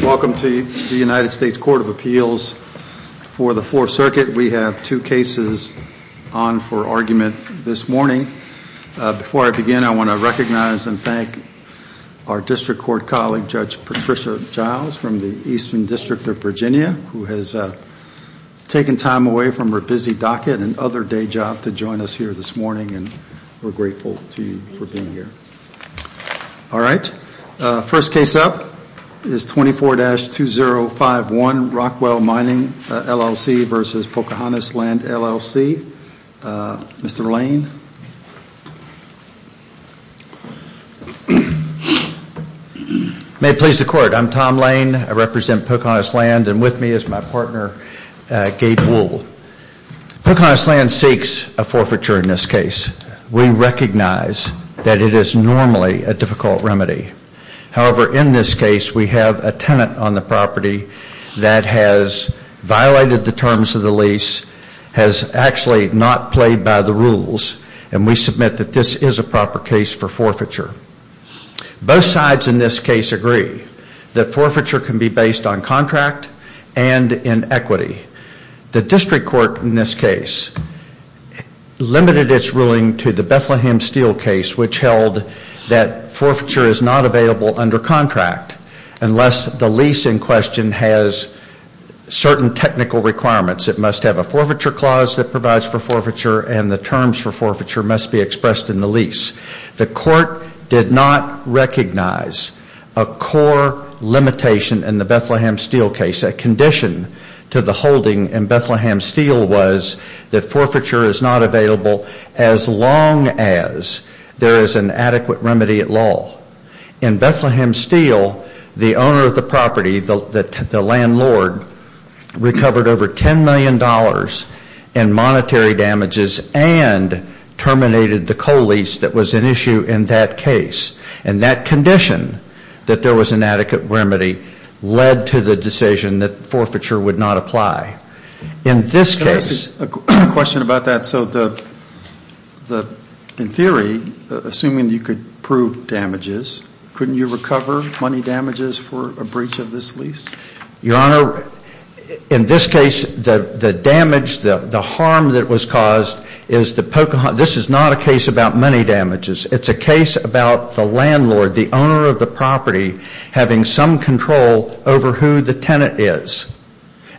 Welcome to the United States Court of Appeals for the Fourth Circuit. We have two cases on for argument this morning. Before I begin, I want to recognize and thank our District Court colleague, Judge Patricia Giles from the Eastern District of Virginia, who has taken time away from her busy docket and other day job to join us here this morning. We're is 24-2051 Rockwell Mining, LLC v. Pocahontas Land, LLC. Mr. Lane. May it please the Court, I'm Tom Lane. I represent Pocahontas Land and with me is my partner, Gabe Wool. Pocahontas Land seeks a forfeiture in this case. We recognize that it is normally a difficult remedy. However, in this case, we have a tenant on the property that has violated the terms of the lease, has actually not played by the rules, and we submit that this is a proper case for forfeiture. Both sides in this case agree that forfeiture can be based on contract and in equity. The District Court in this case limited its ruling to the Bethlehem Steel case, which held that forfeiture is not available under contract unless the lease in question has certain technical requirements. It must have a forfeiture clause that provides for forfeiture and the terms for forfeiture must be expressed in the lease. The Court did not recognize a core limitation in the Bethlehem Steel case. A condition to the holding in Bethlehem Steel was that forfeiture is not available as long as there is an adequate remedy at law. In Bethlehem Steel, the owner of the property, the landlord, recovered over $10 million in monetary damages and terminated the co-lease that was an issue in that case. And that condition, that there was an adequate remedy, led to the decision that forfeiture would not apply. In this case A question about that. So in theory, assuming you could prove damages, couldn't you recover money damages for a breach of this lease? Your Honor, in this case the damage, the harm that was caused is the pocahontas. This is not a case about money damages. It's a case about the landlord, the owner of the property, having some control over who the tenant is.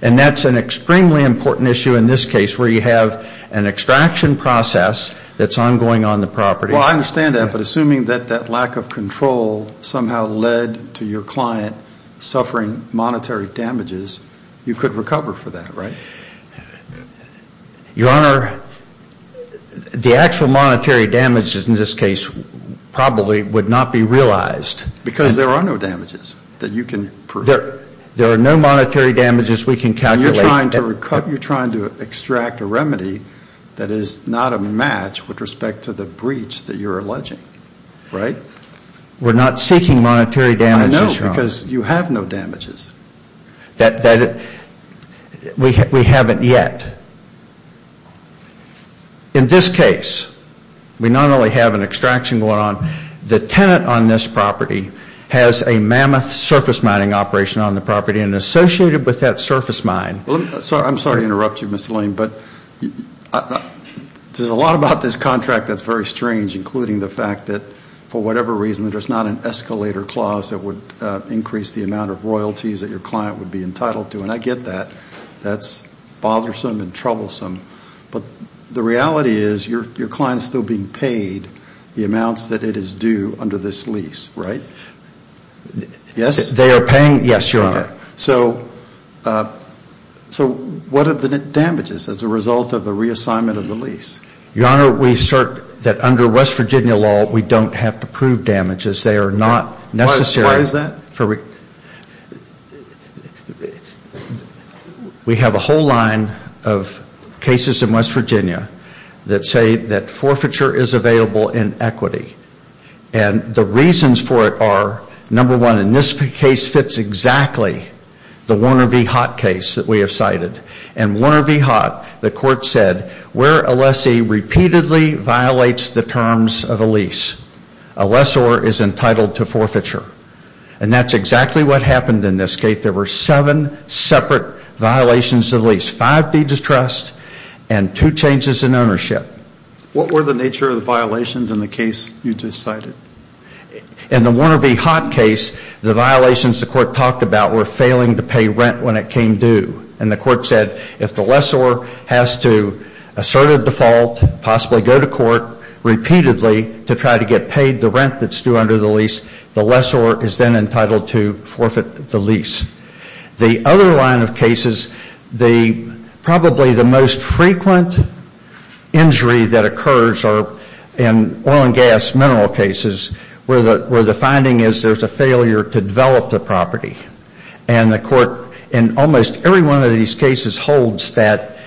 And that's an extremely important issue in this case where you have an extraction process that's ongoing on the property. Well, I understand that, but assuming that that lack of control somehow led to your client suffering monetary damages, you could recover for that, right? Your Honor, the actual monetary damages in this case probably would not be realized. Because there are no damages that you can prove. There are no monetary damages we can calculate. You're trying to extract a remedy that is not a match with respect to the breach that you're alleging, right? We're not seeking monetary damages, Your Honor. I know, because you have no damages. We haven't yet. In this case, we not only have an extraction going on, the tenant on this property has a mammoth surface mining operation on the property and associated with that surface mine. I'm sorry to interrupt you, Mr. Lane, but there's a lot about this contract that's very strange, including the fact that for whatever reason there's not an escalator clause that would increase the amount of royalties that your client would be entitled to. And I get that. That's bothersome and troublesome. But the reality is your client is still being paid the amounts that it is due under this lease, right? Yes? They are paying, yes, Your Honor. So what are the damages as a result of the reassignment of the lease? Your Honor, we assert that under West Virginia law, we don't have to prove damages. They are not necessary. Why is that? We have a whole line of cases in West Virginia that say that forfeiture is available in equity. And the reasons for it are, number one, in this case fits exactly the Warner v. Haught case that we have cited. In Warner v. Haught, the court said where a lessee repeatedly violates the terms of a lease, a lessor is entitled to forfeiture. And that's exactly what happened in this case. There were seven separate violations of the lease. Five deeds of trust and two changes in ownership. What were the nature of the violations in the case you just cited? In the Warner v. Haught case, the violations the court talked about were failing to pay rent when it came due. And the court said if the lessor has to assert a default, possibly go to court repeatedly to try to get paid the rent that's due under the lease, the lessor is then entitled to forfeit the lease. The other line of cases, the probably the most frequent injury that occurs are in oil and gas mineral cases where the finding is there's a failure to develop the property. And the court in almost every one of these cases holds that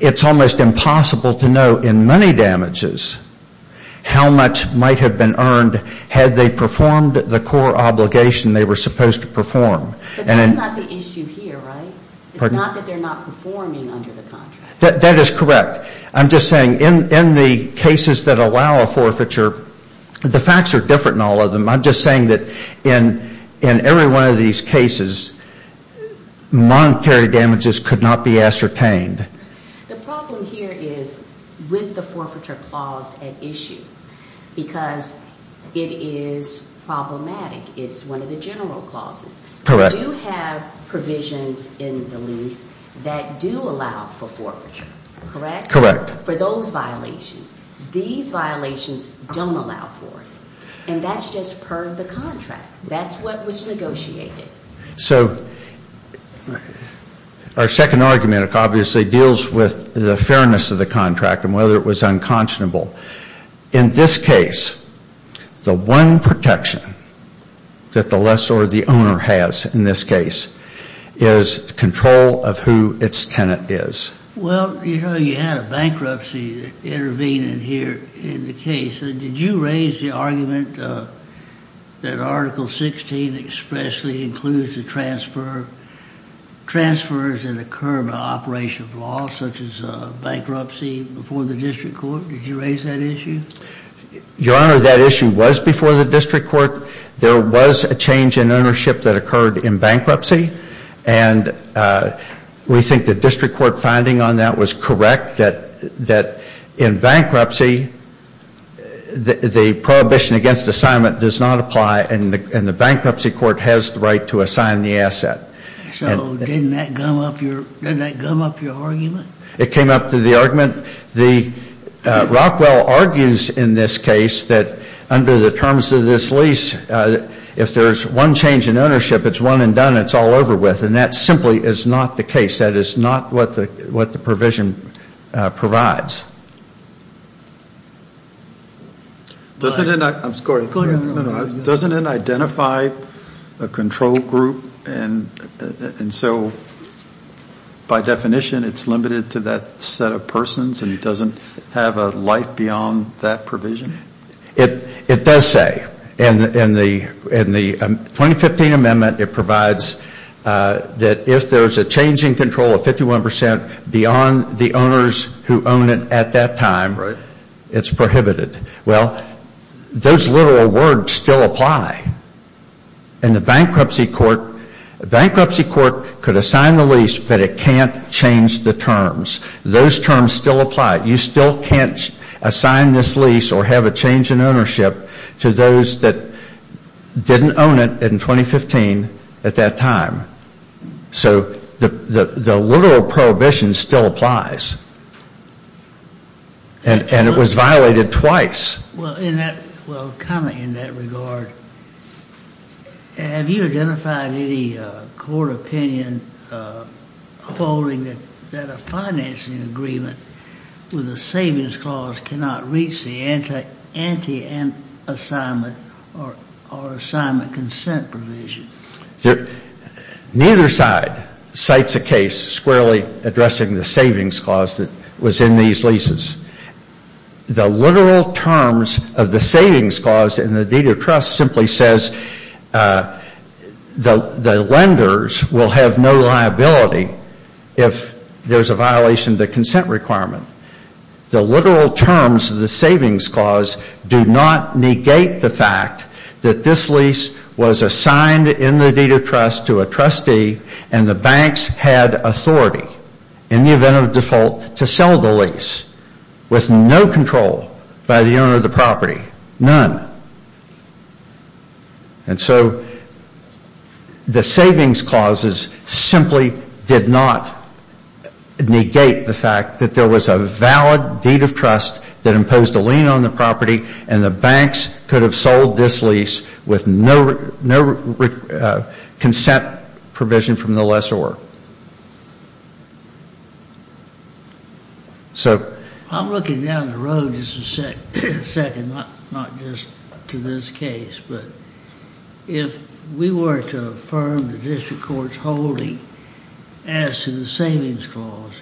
it's almost impossible to know in money damages how much might have been earned had they performed the core obligation they were supposed to perform. But that's not the issue here, right? It's not that they're not performing under the contract. That is correct. I'm just saying in the cases that allow a forfeiture, the facts are different in all of them. I'm just saying that in every one of these cases, monetary damages could not be ascertained. The problem here is with the forfeiture clause at issue because it is problematic. It's one of the general clauses. Correct. We do have provisions in the lease that do allow for forfeiture, correct? Correct. For those violations. These violations don't allow for it. And that's just per the contract. That's what was negotiated. So our second argument, obviously, is that it deals with the fairness of the contract and whether it was unconscionable. In this case, the one protection that the lessor or the owner has in this case is control of who its tenant is. Well, you know, you had a bankruptcy intervene in here in the case. Did you raise the argument that Article 16 expressly includes the transfer, transfers that occur by operation of law such as bankruptcy before the district court? Did you raise that issue? Your Honor, that issue was before the district court. There was a change in ownership that occurred in bankruptcy. And we think the district court finding on that was correct, that in bankruptcy, the prohibition against assignment does not apply and the bankruptcy court has the right to assign the asset. So didn't that gum up your argument? It came up to the argument. The Rockwell argues in this case that under the terms of this lease, if there's one change in ownership, it's one and done. It's all over with. And that simply is not the case. That is not what the provision provides. Doesn't it identify a control problem in this case? Control group and so by definition, it's limited to that set of persons and it doesn't have a life beyond that provision? It does say. In the 2015 amendment, it provides that if there's a change in control of 51% beyond the owners who own it at that time, it's prohibited. Well, those literal words still apply. In the bankruptcy court, bankruptcy court could assign the lease but it can't change the terms. Those terms still apply. You still can't assign this lease or have a change in ownership to those that didn't own it in 2015 at that time. So the literal prohibition still applies. And it was violated twice. Well, in that, well, kind of in that regard, have you identified any court opinion holding that a financing agreement with a savings clause cannot reach the anti-assignment or assignment consent provision? Neither side cites a case squarely addressing the savings clause that was in these leases. The literal terms of the savings clause in the deed of trust simply says the lenders will have no liability if there's a violation of the consent requirement. The literal terms of the savings clause do not negate the fact that this lease was assigned in the deed of trust to a trustee and the banks had authority in the event of default to sell the lease with no control by the owner of the property. None. And so the savings clauses simply did not negate the fact that there was a valid deed of trust that imposed a lien on the property and the banks could have sold this lease with no consent provision from the lessor. So I'm looking down the road just a second, not just to this case, but if we were to affirm the district court's holding as to the savings clause,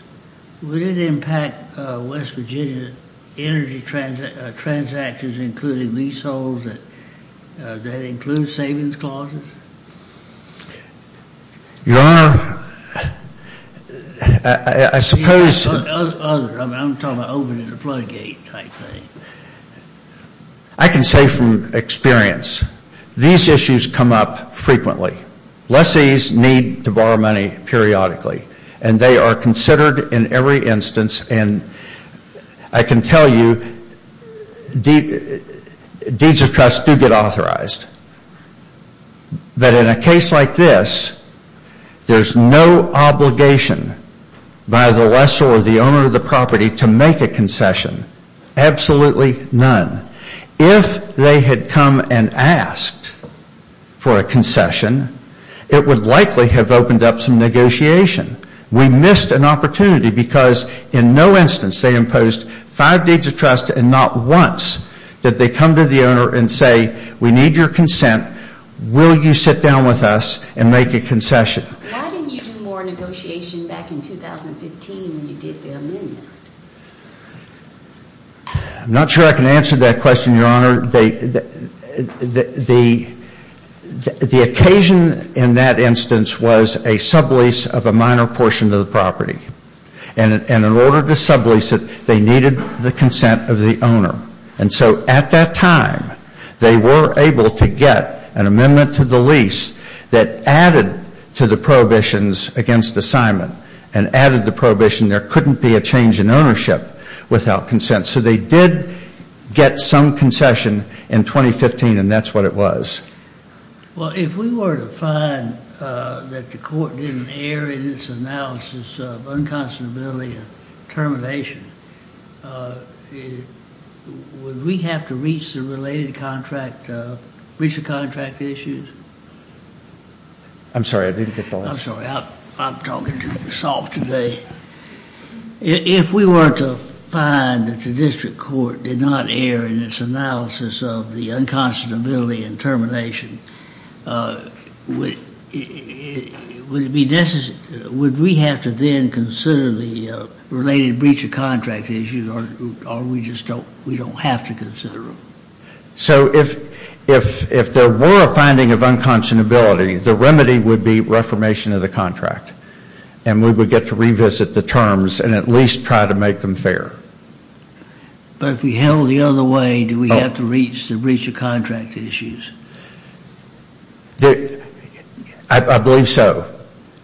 would it impact West Virginia energy transactors including leaseholds that include savings clauses? Your Honor, I suppose Other. I'm talking about opening the floodgate type thing. I can say from experience, these issues come up frequently. Lessees need to borrow money periodically and they are considered in every instance and I can tell you, deeds of trust do get authorized. But in a case like this, there's no obligation by the lessor or the owner of the property to make a concession. Absolutely none. If they had come and asked for a concession, it would likely have opened up some negotiation. We missed an opportunity because in no instance they imposed five deeds of trust and not once did they come to the owner and say, we need your consent. Will you sit down with us and make a concession? Why didn't you do more negotiation back in 2015 when you did the amendment? The occasion in that instance was a sublease of a minor portion of the property. And in order to sublease it, they needed the consent of the owner. And so at that time, they were able to get an amendment to the lease that added to the prohibitions against assignment and added the prohibition there couldn't be a change in ownership without consent. So they did get some concession in 2015 and that's what it was. Well, if we were to find that the court didn't err in its analysis of unconscionability and termination, would we have to reach the related contract, reach the contract issues? I'm sorry, I didn't get the last part. I'm sorry, I'm talking too soft today. If we were to find that the district court did not err in its analysis of the unconscionability and termination, would we have to then consider the related breach of contract issues or we don't have to consider them? So if there were a finding of unconscionability, the remedy would be reformation of the contract and we would get to revisit the terms and at least try to make them fair. But if we held it the other way, do we have to reach the breach of contract issues? I believe so.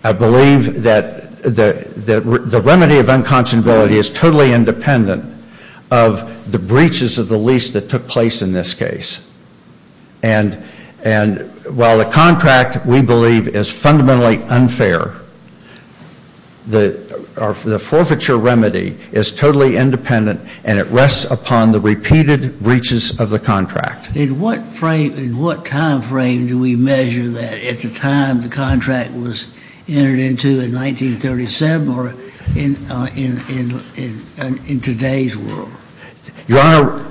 I believe that the remedy of unconscionability is totally independent of the breaches of the lease that took place in this case. And while the contract, we believe, is fundamentally unfair, the forfeiture remedy is totally independent and it rests upon the repeated breaches of the contract. In what frame, in what time frame do we measure that? At the time the contract was entered into in 1937 or in today's world? Your Honor,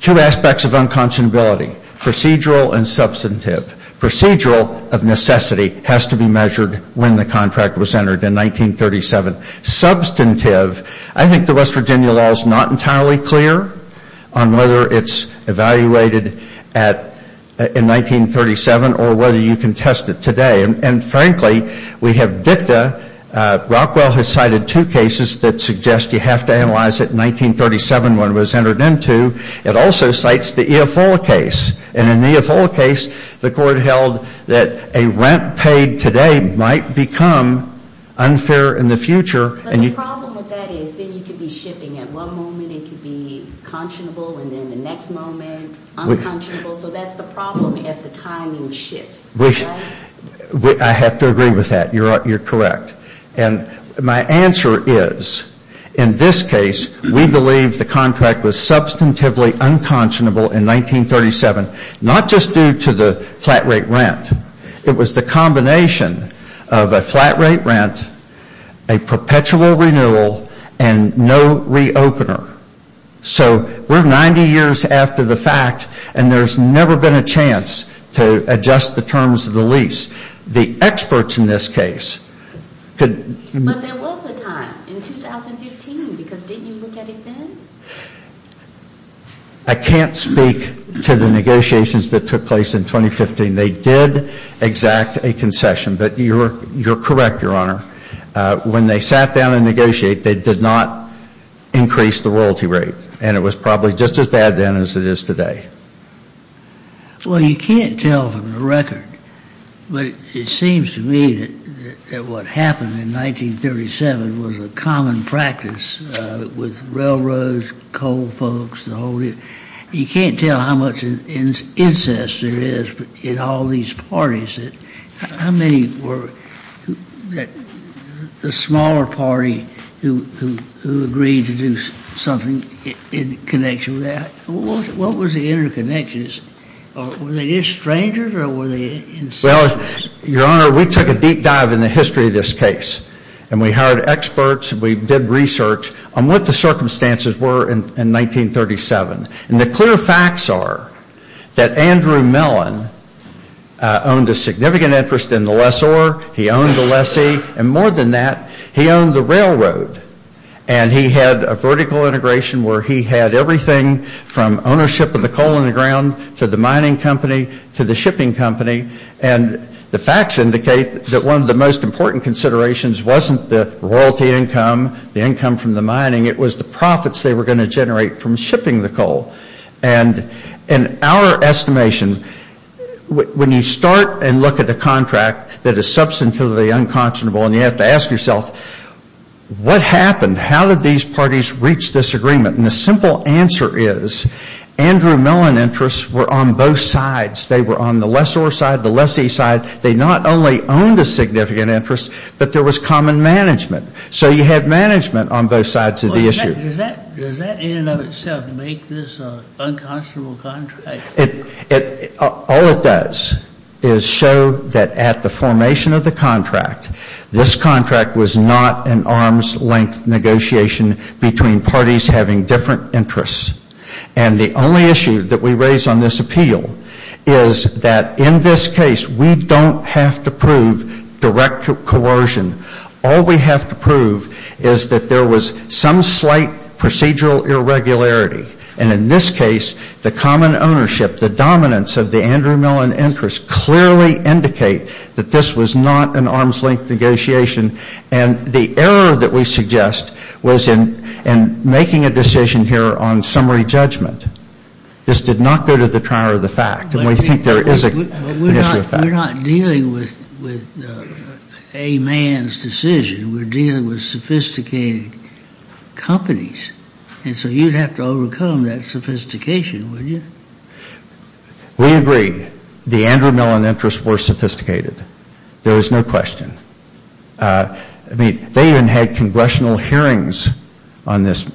two aspects of unconscionability, procedural and substantive. Procedural of necessity has to be measured when the contract was entered in 1937. Substantive, I think the West Virginia law is not entirely clear on whether it's evaluated in 1937 or whether you can test it today. And frankly, we have dicta. Rockwell has cited two cases that suggest you have to analyze it in 1937 when it was entered into. It also cites the E.F. Ola case. And in the E.F. Ola case, the court held that a rent paid today might become unfair in the future. But the problem with that is that you could be shifting. At one moment it could be conscionable and then the next moment, unconscionable. So that's the problem if the timing shifts. I have to agree with that. You're correct. And my answer is, in this case, we believe the contract was substantively unconscionable in 1937, not just due to the flat rate rent. It was the combination of a flat rate rent, a perpetual renewal and no re-opener. So we're 90 years after the fact and there's never been a chance to adjust the terms of the lease. The experts in this case could But there was a time, in 2015, because didn't you look at it then? I can't speak to the negotiations that took place in 2015. They did exact a concession. But you're correct, Your Honor. When they sat down and negotiated, they did not increase the royalty rate. And it was probably just as bad then as it is today. Well, you can't tell from the record, but it seems to me that what happened in 1937 was a common practice with railroads, coal folks, the whole deal. You can't tell how much incest there is in all these parties. How many were the smaller party who agreed to do something in connection with that? What was the interconnections? Were they just strangers or were they incestuous? Well, Your Honor, we took a deep dive in the history of this case. And we hired experts. We did research on what the circumstances were in 1937. And the clear facts are that Andrew Mellon owned a significant interest in the lessor. He owned the lessee. And more than that, he owned the railroad. And he had a vertical integration where he had everything from ownership of the coal in the ground to the mining company to the shipping company. And the facts indicate that one of the most important considerations wasn't the royalty income, the income from the mining. It was the profits they were going to generate from shipping the coal. And in our estimation, when you start and look at a contract that is substantively unconscionable and you have to ask yourself, what happened? How did these parties reach disagreement? And the simple answer is Andrew Mellon interests were on both sides. They were on the lessor side, the lessee side. They not only owned a significant interest, but there was common management. So you had management on both sides of the issue. Well, does that in and of itself make this an unconscionable contract? All it does is show that at the formation of the contract, this contract was not an arms length negotiation between parties having different interests. And the only issue that we raise on this appeal is that in this case, we don't have to prove direct coercion. All we have to prove is that there was some slight procedural irregularity. And in this case, the common ownership, the dominance of the Andrew Mellon interests clearly indicate that this was not an arms length negotiation. And the error that we suggest was in making a decision here on summary judgment. This did not go to the trier of the fact. And we think there is an issue of fact. But we're not dealing with a man's decision. We're dealing with sophisticated companies. And so you'd have to overcome that sophistication, wouldn't you? We agree. The Andrew Mellon interests were sophisticated. There is no question. I mean, they even had congressional hearings on this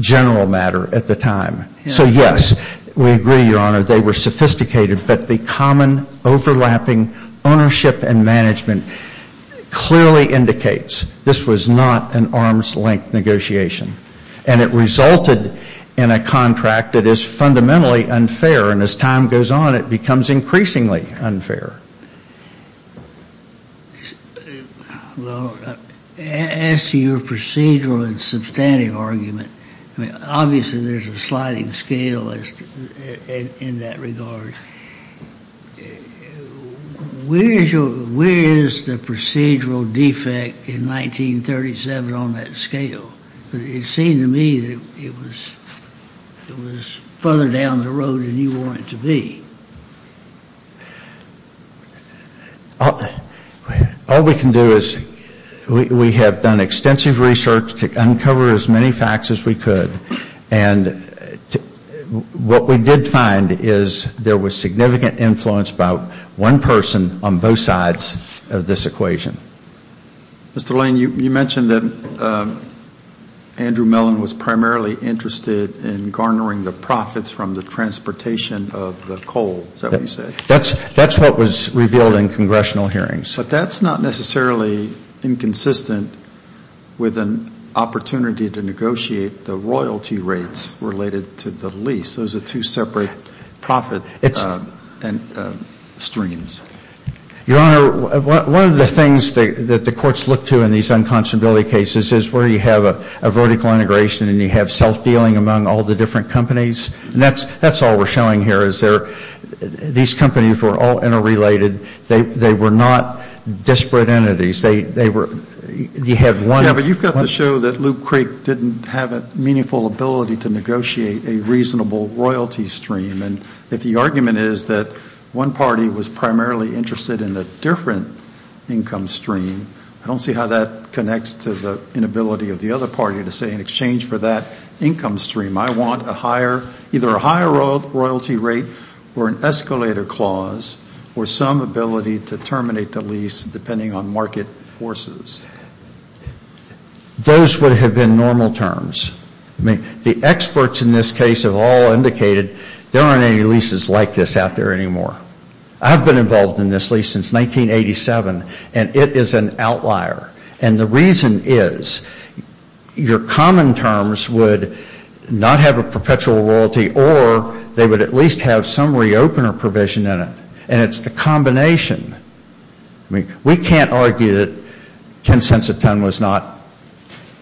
general matter at the time. So yes, we agree, Your Honor, they were sophisticated. But the common overlapping ownership and management clearly indicates this was not an arms length negotiation. And it resulted in a contract that is fundamentally unfair. And as time goes on, it becomes increasingly unfair. Well, as to your procedural and substantive argument, I mean, obviously, there's a sliding scale in that regard. Where is your, where is the, you know, where is the, you know, the procedural defect in 1937 on that scale? It seemed to me that it was, it was further down the road than you want it to be. All we can do is, we have done extensive research to uncover as many facts as we could. And what we did find is there was significant influence about one person on both sides of this equation. Mr. Lane, you mentioned that Andrew Mellon was primarily interested in garnering the profits from the transportation of the coal, is that what you said? That's what was revealed in congressional hearings. But that's not necessarily inconsistent with an opportunity to negotiate the royalty rates related to the lease. Those are two separate profit streams. Your Honor, one of the things that the courts look to in these unconscionability cases is where you have a vertical integration and you have self-dealing among all the different companies. And that's, that's all we're showing here is there, these companies were all interrelated. They, they were not disparate entities. They, they were, you have one of them. Yeah, but you've got to show that Loop Creek didn't have a meaningful ability to negotiate a reasonable royalty stream. And if the argument is that one party was primarily interested in a different income stream, I don't see how that connects to the inability of the other party to say in exchange for that income stream I want a higher, either a higher royalty rate or an escalator clause or some ability to terminate the lease depending on market forces. Those would have been normal terms. I mean, the experts in this case have all indicated there aren't any leases like this out there anymore. I've been involved in this lease since 1987 and it is an outlier. And the reason is your common terms would not have a perpetual royalty or they would at least have some re-opener provision in it. And it's the combination. I mean, we can't argue that 10 cents a ton was not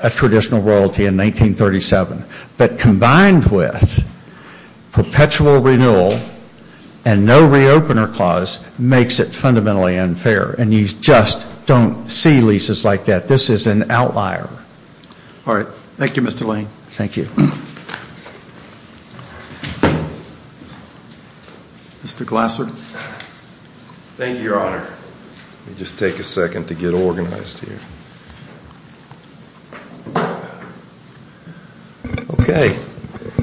a traditional royalty in 1937. But combined with perpetual renewal and no re-opener clause makes it fundamentally unfair. And you just don't see leases like that. This is an outlier. All right. Thank you, Mr. Lane. Thank you. Mr. Glasser. Thank you, Your Honor. Let me just take a second to get organized here. Okay.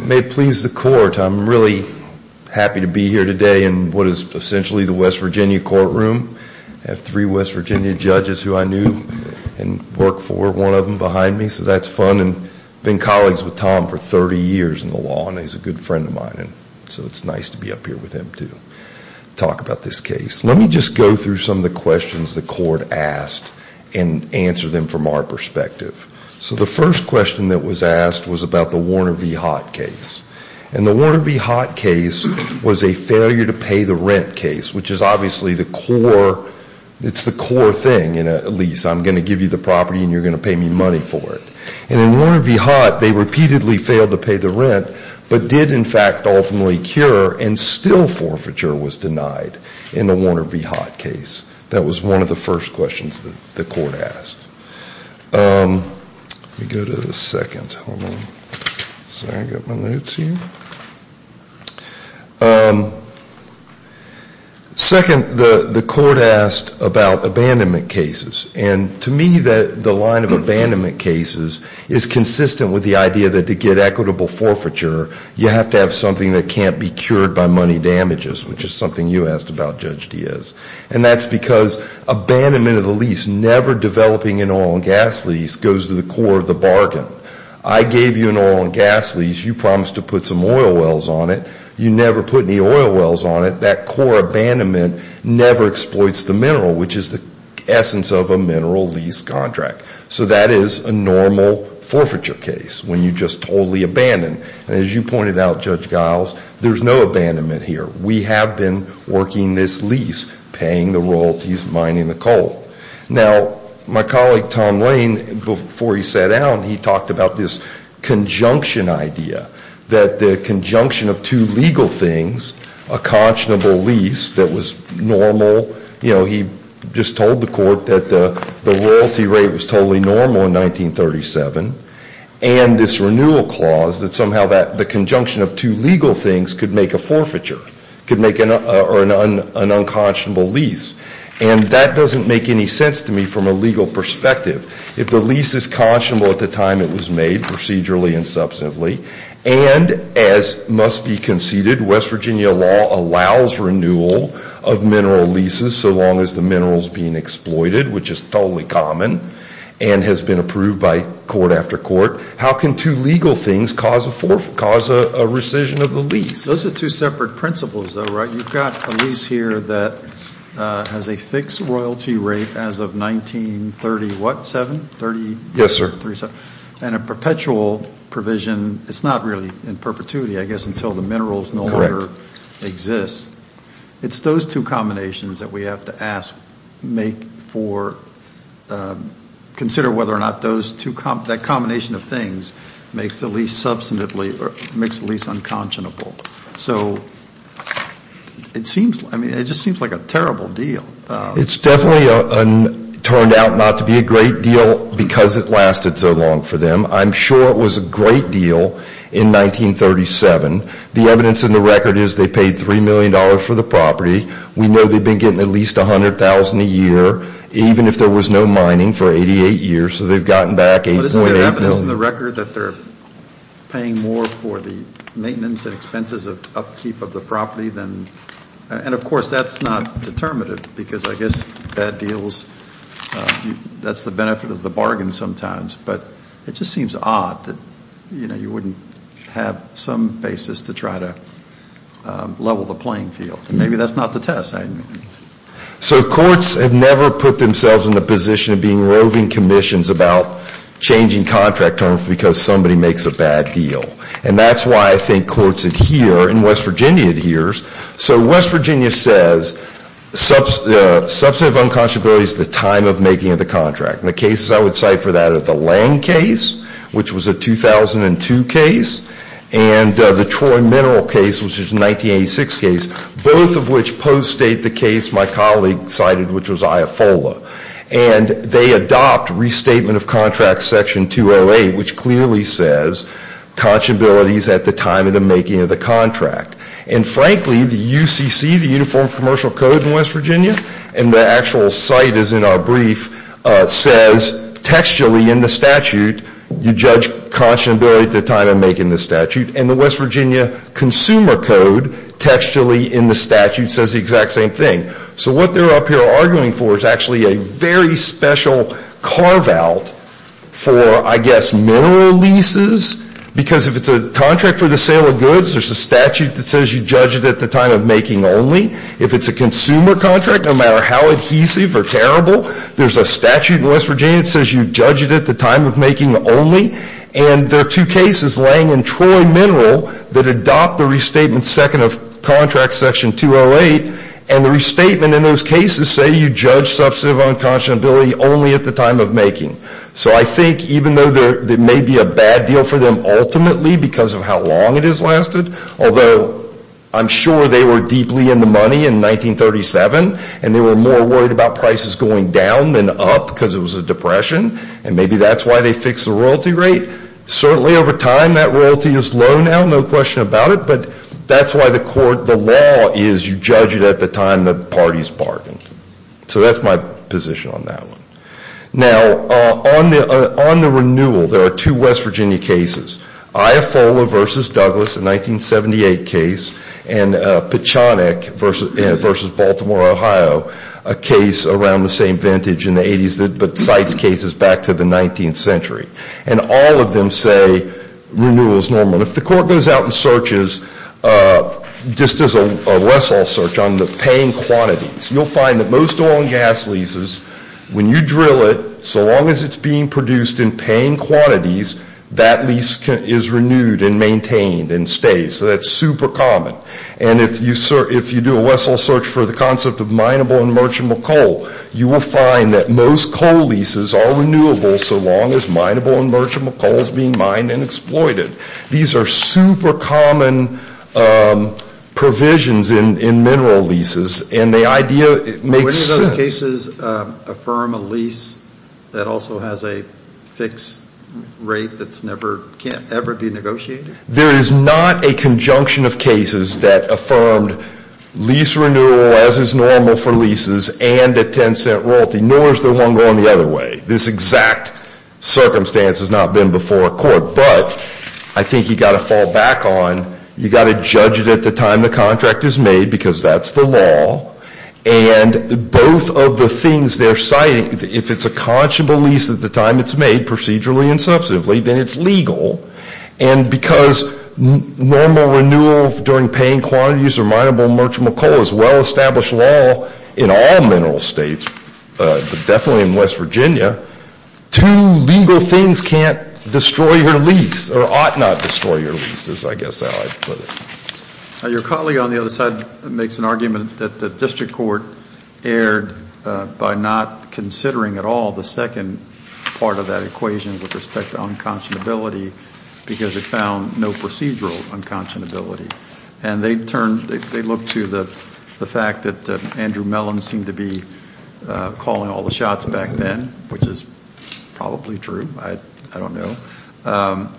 May it please the court, I'm really happy to be here today in what is essentially the West Virginia courtroom. I have three West Virginia judges who I knew and worked for, one of them behind me, so that's fun. And I've been colleagues with Tom for 30 years in the law and he's a good friend of mine. So it's nice to be up here with him to talk about this case. Let me just go through some of the questions the court asked and answer them from our perspective. So the first question that was asked was about the Warner v. Hott case. And the Warner v. Hott case was a failure to pay the rent case, which is obviously the core, it's the core thing in a lease. I'm going to give you the property and you're going to pay me money for it. And in Warner v. Hott, they repeatedly failed to pay the rent, but did in fact ultimately cure and still forfeiture was denied in the Warner v. Hott case. That was one of the first questions that the court asked. Let me go to the second. Second, the court asked about abandonment cases. And to me, the line of abandonment cases is consistent with the idea that to get equitable forfeiture, you have to have something that can't be cured by money damages, which is something you asked about, Judge Diaz. And that's because abandonment of the lease, never developing an oil and gas lease, goes to the core of the bargain. I gave you an oil and gas lease. You promised to put some oil wells on it. You never put any oil wells on it. That core abandonment never exploits the mineral, which is the essence of a mineral lease contract. So that is a normal forfeiture case, when you just totally abandon. And as you pointed out, Judge Giles, there's no abandonment here. We have been working this lease, paying the royalties, mining the coal. Now, my colleague, Tom Lane, before he sat down, he talked about this conjunction idea, that the conjunction of two legal things, a conscionable lease that was normal, you know, he just told the court that the royalty rate was totally normal in 1937, and this renewal clause that somehow the conjunction of two legal things could make a forfeiture, could make an unconscionable lease. And that doesn't make any sense to me from a legal perspective. If the lease is conscionable at the time it was made, procedurally and substantively, and as must be conceded, West Virginia law allows renewal of mineral leases so long as the mineral is being exploited, which is totally common, and has been approved by court after court, how can two legal things cause a rescission of the lease? Those are two separate principles, though, right? You've got a lease here that has a fixed royalty rate as of 1937, and a perpetual provision, it's not really in perpetuity, I guess, until the minerals no longer exist. It's those two combinations that we have to ask, consider whether or not that combination of things makes the lease unconscionable. So it seems, I mean, it just seems like a terrible deal. It's definitely turned out not to be a great deal because it lasted so long for them. I'm sure it was a great deal in 1937. The evidence in the record is they paid $3 million for the property. We know they've been getting at least $100,000 a year, even if there was no mining for 88 years, so they've gotten back $8.8 million. Evidence in the record that they're paying more for the maintenance and expenses of upkeep of the property than, and of course that's not determinative because I guess bad deals, that's the benefit of the bargain sometimes, but it just seems odd that you wouldn't have some basis to try to level the playing field, and maybe that's not the test. So courts have never put themselves in the position of being roving commissions about changing contract terms because somebody makes a bad deal. And that's why I think courts adhere, and West Virginia adheres. So West Virginia says substantive unconscionability is the time of making of the contract. And the cases I would cite for that are the Lange case, which was a 2002 case, and the Troy Mineral case, which was a 1986 case, both of which post-state the case my colleague cited, which was IAFOLA. And they adopt restatement of contract section 208, which clearly says conscionability is at the time of the making of the contract. And frankly, the UCC, the Uniform Commercial Code in West Virginia, and the actual site is in our brief, says textually in the statute you judge conscionability at the time of making the statute, and the West Virginia Consumer Code textually in the statute says the exact same thing. So what they're up here arguing for is actually a very special carve-out for, I guess, mineral leases, because if it's a contract for the sale of goods, there's a statute that says you judge it at the time of making only. If it's a consumer contract, no matter how adhesive or terrible, there's a statute in West Virginia that says you judge it at the time of making only. And there are two cases, Lange and Troy Mineral, that adopt the restatement second of contract section 208, and the restatement in those cases say you judge substantive unconscionability only at the time of making. So I think even though there may be a bad deal for them ultimately because of how long it has lasted, although I'm sure they were deeply in the money in 1937, and they were more worried about prices going down than up because it was a depression, and maybe that's why they fixed the royalty rate, certainly over time that royalty is low now, no question about it, but that's why the court, the law is you judge it at the time the party's bargained. So that's my position on that one. Now, on the renewal, there are two West Virginia cases, Iafola versus Douglas, a 1978 case, and Pechonok versus Baltimore, Ohio, a case around the same vintage in the 80s, but cites cases back to the 19th century. And all of them say renewal is normal. If the court goes out and searches, just as a Wessel search on the paying quantities, you'll find that most oil and gas leases, when you drill it, so long as it's being produced in paying quantities, that lease is renewed and maintained and stays. So that's super common. And if you do a Wessel search for the concept of mineable and merchantable coal, you will find that most coal leases are renewable so long as mineable and merchantable coal is being mined and exploited. These are super common provisions in mineral leases, and the idea makes sense. But wouldn't those cases affirm a lease that also has a fixed rate that's never, can't ever be negotiated? There is not a conjunction of cases that affirmed lease renewal as is normal for leases and a ten-cent royalty, nor is there one going the other way. This exact circumstance has not been before a court. But I think you've got to fall back on, you've got to judge it at the time the contract is made, because that's the law. And both of the things they're citing, if it's a conscionable lease at the time it's made, procedurally and substantively, then it's legal. And because normal renewal during paying quantities or mineable and merchantable coal is well-established law in all mineral states, definitely in West Virginia, two legal things can't destroy your lease, or ought not destroy your lease, is I guess how I'd put it. Your colleague on the other side makes an argument that the district court erred by not considering at all the second part of that equation with respect to unconscionability because it found no procedural unconscionability. And they turned, they looked to the fact that Andrew Mellon seemed to be calling all the shots back then, which is probably true. I don't know.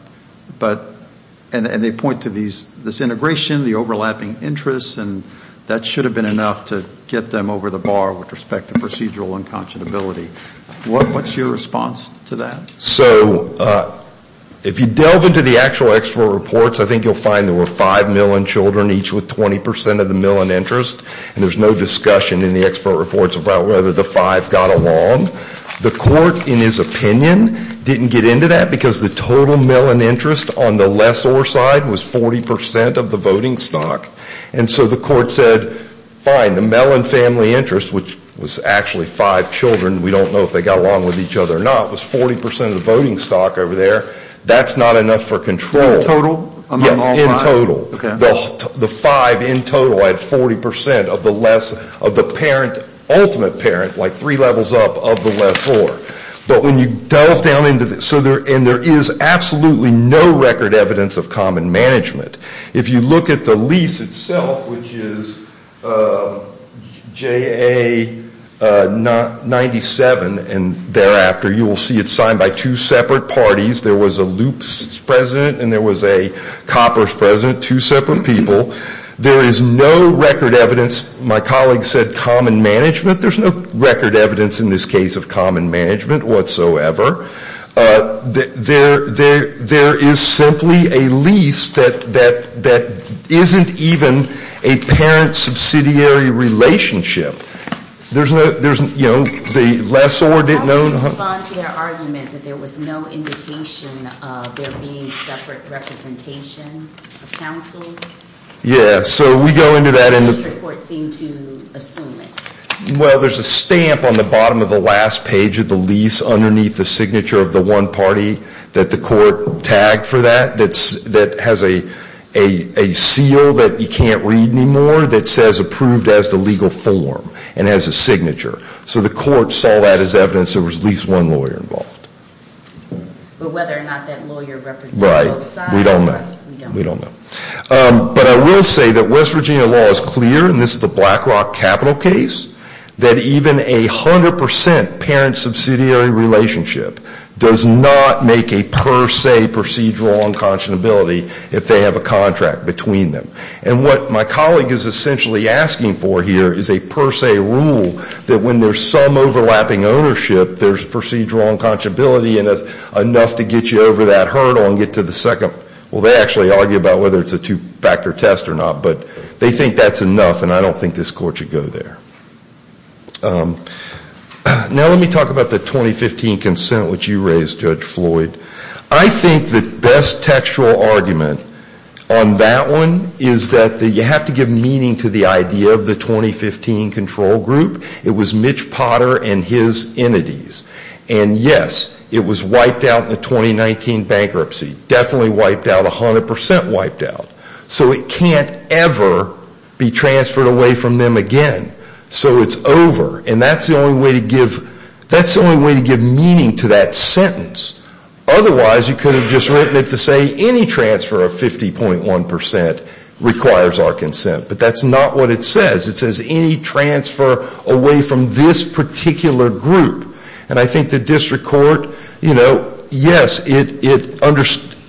And they point to this integration, the overlapping interests, and that should have been enough to get them over the bar with respect to procedural unconscionability. What's your response to that? So if you delve into the actual export reports, I think you'll find there were 5 million children each with 20 percent of the Mellon interest. And there's no discussion in the export reports about whether the 5 got along. The court, in his opinion, didn't get into that because the total Mellon interest on the lessor side was 40 percent of the voting stock. And so the court said, fine, the Mellon family interest, which was actually 5 children, we don't know if they got along with each other or not, was 40 percent of the voting stock over there. That's not enough for control. In total? Yes, in total. The 5 in total had 40 percent of the less, of the parent, ultimate parent, like 3 levels up of the lessor. But when you delve down into this, and there is absolutely no record evidence of common management. If you look at the lease itself, which is JA97, and thereafter you will see it's signed by two separate parties. There was a loops president and there was a coppers president, two separate people. There is no record evidence, my colleague said common management. There's no record evidence in this case of common management whatsoever. There is simply a lease that isn't even a parent subsidiary relationship. There's no, you know, the lessor didn't know how to respond to that argument that there was no indication of there being separate representation of counsel. Yeah, so we go into that and The district court seemed to assume it. Well, there's a stamp on the bottom of the last page of the lease underneath the signature of the one party that the court tagged for that, that has a seal that you can't read anymore that says approved as the legal form and has a signature. So the court saw that as evidence there was at least one lawyer involved. But whether or not that lawyer represented both sides, we don't know. Right, we don't know. But I will say that West Virginia law is clear, and this is the Black Rock Capital case, that even a 100% parent subsidiary relationship does not make a per se procedural unconscionability if they have a contract between them. And what my colleague is essentially asking for here is a per se rule that when there's some overlapping ownership there's procedural unconscionability and that's enough to get you over that hurdle and get to the second, well they actually argue about whether it's a two-factor test or not, but they think that's enough and I don't think this court should go there. Now let me talk about the 2015 consent which you raised, Judge Floyd. I think the best textual argument on that one is that you have to give meaning to the idea of the 2015 control group. It was Mitch Potter and his entities. And yes, it was wiped out in the 2019 bankruptcy. Definitely wiped out, 100% wiped out. So it can't ever be transferred away from them again. So it's over. And that's the only way to give meaning to that sentence. Otherwise you could have just written it to say any transfer of 50.1% requires our consent. But that's not what it says. It says any transfer away from this particular group. And I think the district court, you know, yes, it,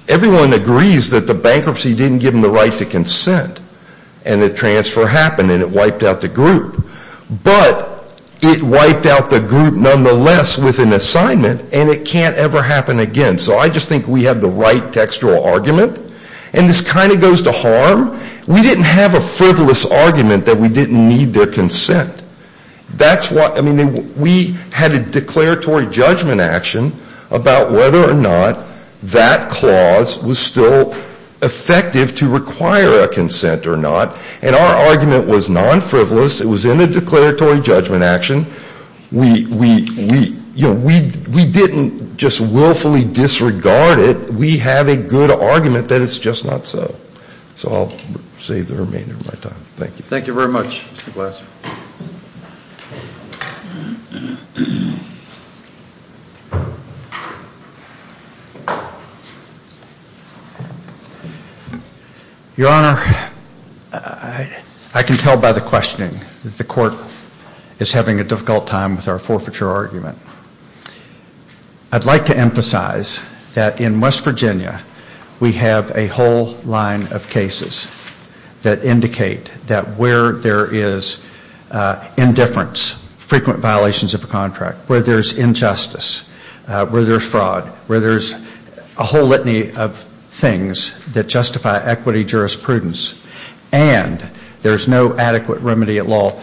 everyone agrees that the bankruptcy didn't give them the right to consent and the transfer happened and it wiped out the group. But it wiped out the group nonetheless with an assignment and it can't ever happen again. So I just think we have the right textual argument. And this kind of goes to harm. We didn't have a frivolous argument that we didn't need their consent. That's what, I mean, we had a declaratory judgment action about whether or not that clause was still effective to require a consent or not. And our argument was non-frivolous. It was in a declaratory judgment action. We, you know, we didn't just willfully disregard it. We have a good argument that it's just not so. So I'll save the remainder of my time. Thank you. Thank you very much, Mr. Glasser. Your Honor, I can tell by the questioning that the court is having a difficult time with our forfeiture argument. I'd like to emphasize that in West Virginia we have a whole line of cases that indicate that where there is indifference, frequent violations of a contract, where there's injustice, where there's fraud, where there's a whole litany of things that justify equity jurisprudence and there's no adequate remedy at law,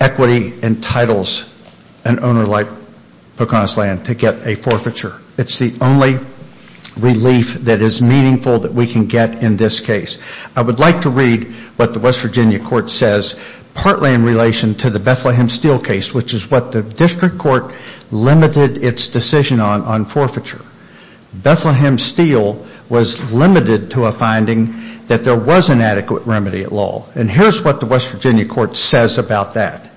equity entitles an owner like Pocahontas Land to get a forfeiture. It's the only relief that is meaningful that we can get in this case. I would like to read what the West Virginia court says, partly in relation to the Bethlehem Steel case, which is what the district court limited its decision on on forfeiture. Bethlehem Steel was limited to a finding that there was an adequate remedy at law. And here's what the West Virginia court says about that.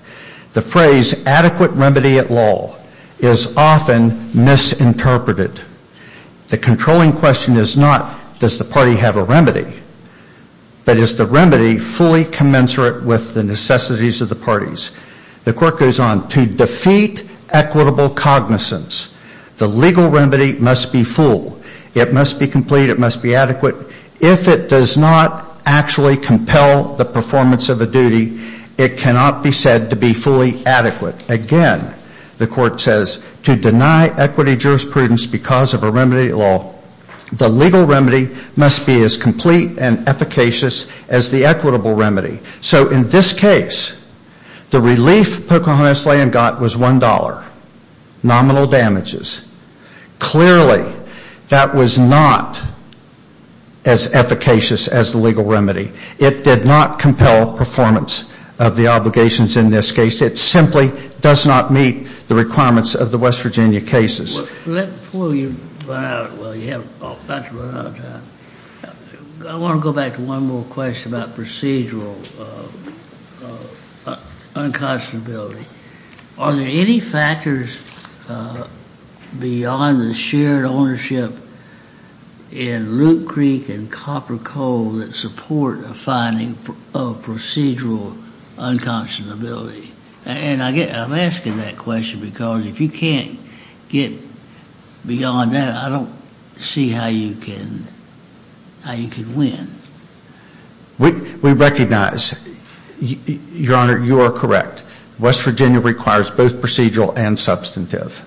The phrase adequate remedy at law is often misinterpreted. The controlling question is not, does the party have a remedy? But is the remedy fully commensurate with the necessities of the parties? The court goes on, to defeat equitable cognizance, the legal remedy must be full. It must be complete. It must be adequate. If it does not actually compel the performance of a duty, it cannot be said to be fully adequate. Again, the court says, to deny equity jurisprudence because of a remedy at law, the legal remedy must be as complete and efficacious as the equitable remedy. So in this case, the relief Pocahontas Land got was $1. Nominal damages. Clearly, that was not as efficacious as the legal remedy. It did not compel performance of the obligations in this case. It simply does not meet the requirements of the West Virginia court. Before you run out of time, I want to go back to one more question about procedural unconscionability. Are there any factors beyond the shared ownership in Loop Creek and Copper Coal that support a finding of procedural unconscionability? And I'm asking that question because if you can't get beyond that, I don't see how you can win. We recognize, Your Honor, you are correct. West Virginia requires both procedural and substantive.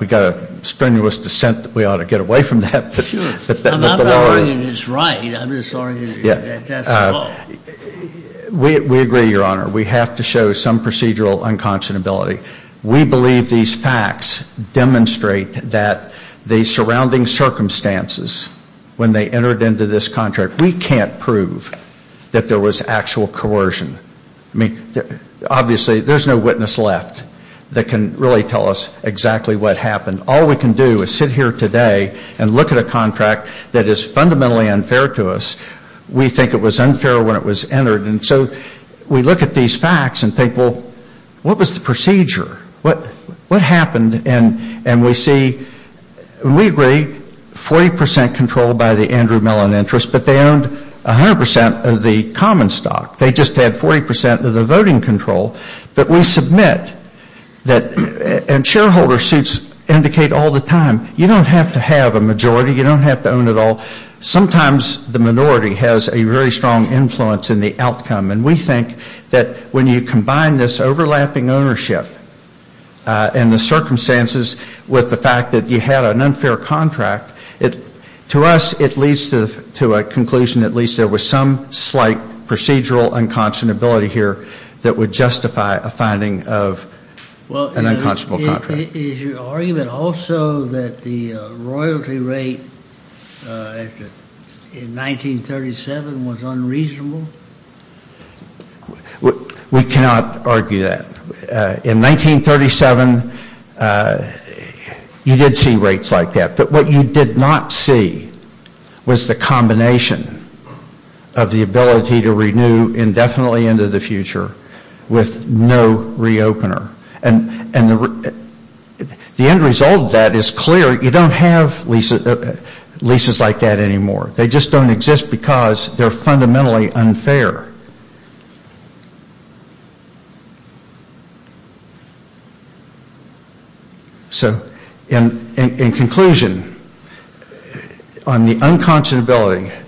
We've got a strenuous dissent that we ought to get away from that. I'm not arguing it's right. I'm just arguing that that's wrong. We agree, Your Honor. We have to show some procedural unconscionability. We believe these facts demonstrate that the surrounding circumstances when they entered into this contract, we can't prove that there was actual coercion. I mean, obviously, there's no witness left that can really tell us exactly what happened. All we can do is sit here today and look at a contract that is fundamentally unfair to us. We think it was unfair when it was entered. So we look at these facts and think, well, what was the procedure? What happened? And we see, we agree, 40% control by the Andrew Mellon interest, but they owned 100% of the common stock. They just had 40% of the voting control. But we submit that, and shareholder suits indicate all the time, you don't have to have a majority. You don't have to own it all. Sometimes the minority has a very strong influence in the outcome. And we think that when you combine this overlapping ownership and the circumstances with the fact that you had an unfair contract, to us, it leads to a conclusion that at least there was some slight procedural unconscionability here that would justify a finding of an unconscionable contract. Is your argument also that the royalty rate in 1937 was unreasonable? We cannot argue that. In 1937, you did see rates like that. But what you did not see was the combination of the ability to renew indefinitely into the future with no re-opener. And the end result of that is clear. You don't have leases like that anymore. They just don't exist because they are fundamentally unfair. So in conclusion, on the unconscionability,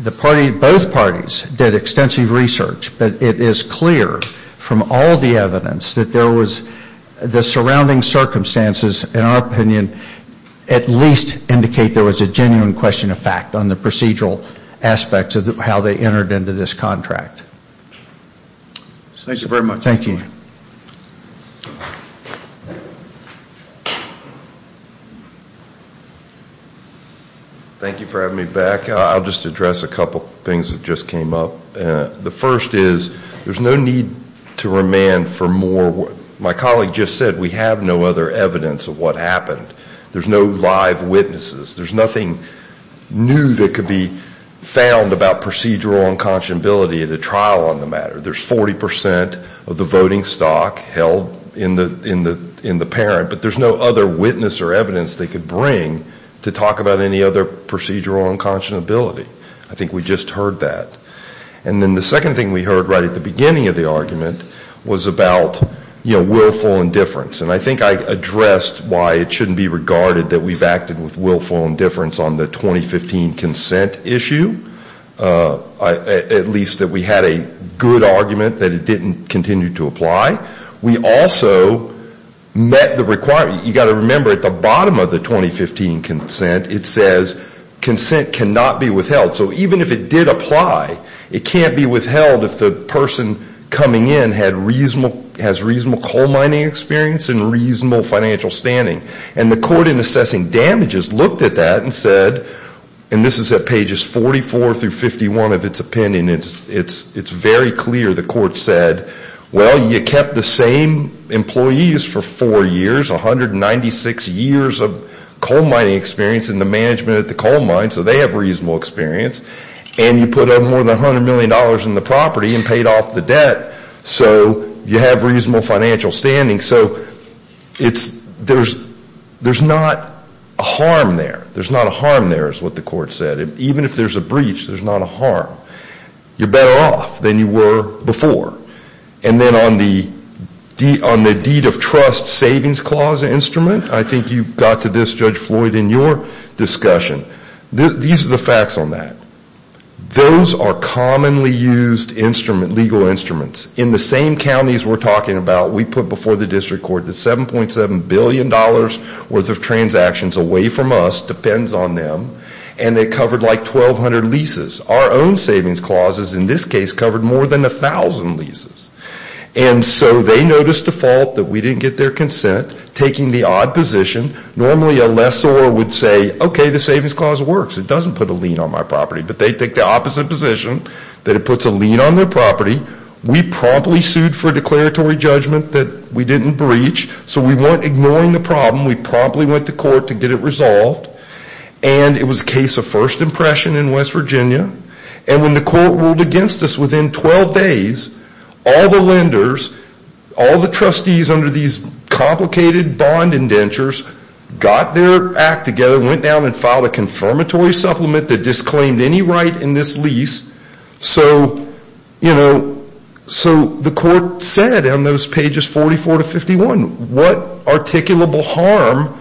the party, both parties, did extensive research. But it is clear from all the evidence that the surrounding circumstances, in our opinion, at least indicate there was a genuine question of fact on the procedural aspects of how they entered into this contract. Thank you very much. Thank you for having me back. I'll just address a couple of things that just came up. The first is there's no need to remand for more. My colleague just said we have no other evidence of what happened. There's no live witnesses. There's nothing new that could be found about procedural unconscionability at a trial on the matter. There's 40 percent of the voting stock held in the parent, but there's no other witness or evidence they bring to talk about any other procedural unconscionability. I think we just heard that. And then the second thing we heard right at the beginning of the argument was about willful indifference. And I think I addressed why it shouldn't be regarded that we've acted with willful indifference on the 2015 consent issue, at least that we had a good argument that it didn't continue to apply. We also met the requirement. You've got to remember at the bottom of the 2015 consent it says consent cannot be withheld. So even if it did apply, it can't be withheld if the person coming in has reasonable coal mining experience and reasonable financial standing. And the court in assessing damages looked at that and said, and this is at pages 44 through 51 of its opinion, it's very clear the court said, well, you kept the same employees for four years, 196 years of coal mining experience in the management at the coal mine, so they have reasonable experience, and you put up more than $100 million in the property and paid off the debt, so you have reasonable financial standing. So there's not a harm there. There's not a harm there is what the court said. Even if there's a breach, there's not a harm. You're better off than you were before. And then on the deed of trust savings clause instrument, I think you got to this, Judge Floyd, in your discussion. These are the facts on that. Those are commonly used instruments, legal instruments. In the same counties we're talking about, we put before the district court the $7.7 billion worth of transactions away from us, depends on them, and they covered like 1,200 leases. Our own savings clauses in this case covered more than 1,000 leases. And so they noticed the fault that we didn't get their consent, taking the odd position. Normally a lessor would say, okay, the savings clause works. It doesn't put a lien on my property. But they take the opposite position, that it puts a lien on their property. We promptly sued for declaratory judgment that we didn't breach, so we weren't ignoring the problem. We promptly went to court to get it resolved. And it was a case of first impression in West Virginia. And when the court ruled against us within 12 days, all the lenders, all the trustees under these complicated bond indentures got their act together, went down and filed a confirmatory supplement that disclaimed any right in this lease. So, you know, so the court said on those pages 44 to 51, what articulable harm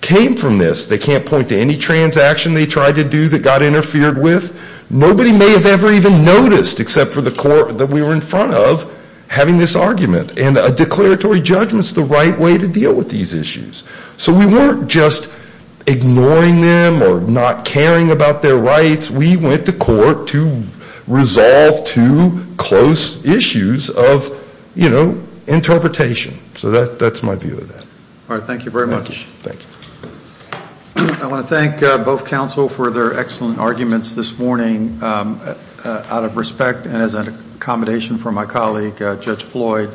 came from this? They can't point to any transaction they tried to do that got interfered with. Nobody may have ever even noticed, except for the court that we were in front of, having this argument. And a declaratory judgment is the right way to deal with these issues. So we weren't just ignoring them or not caring about their rights. We went to court to resolve two close issues of, you know, interpretation. So that's my view of that. All right. Thank you very much. Thank you. I want to thank both counsel for their excellent arguments this morning. Out of respect and as an accommodation for my colleague, Judge Floyd,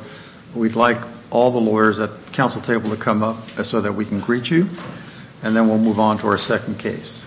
we'd like all the lawyers at the council table to come up so that we can greet you. And then we'll move on to our second case.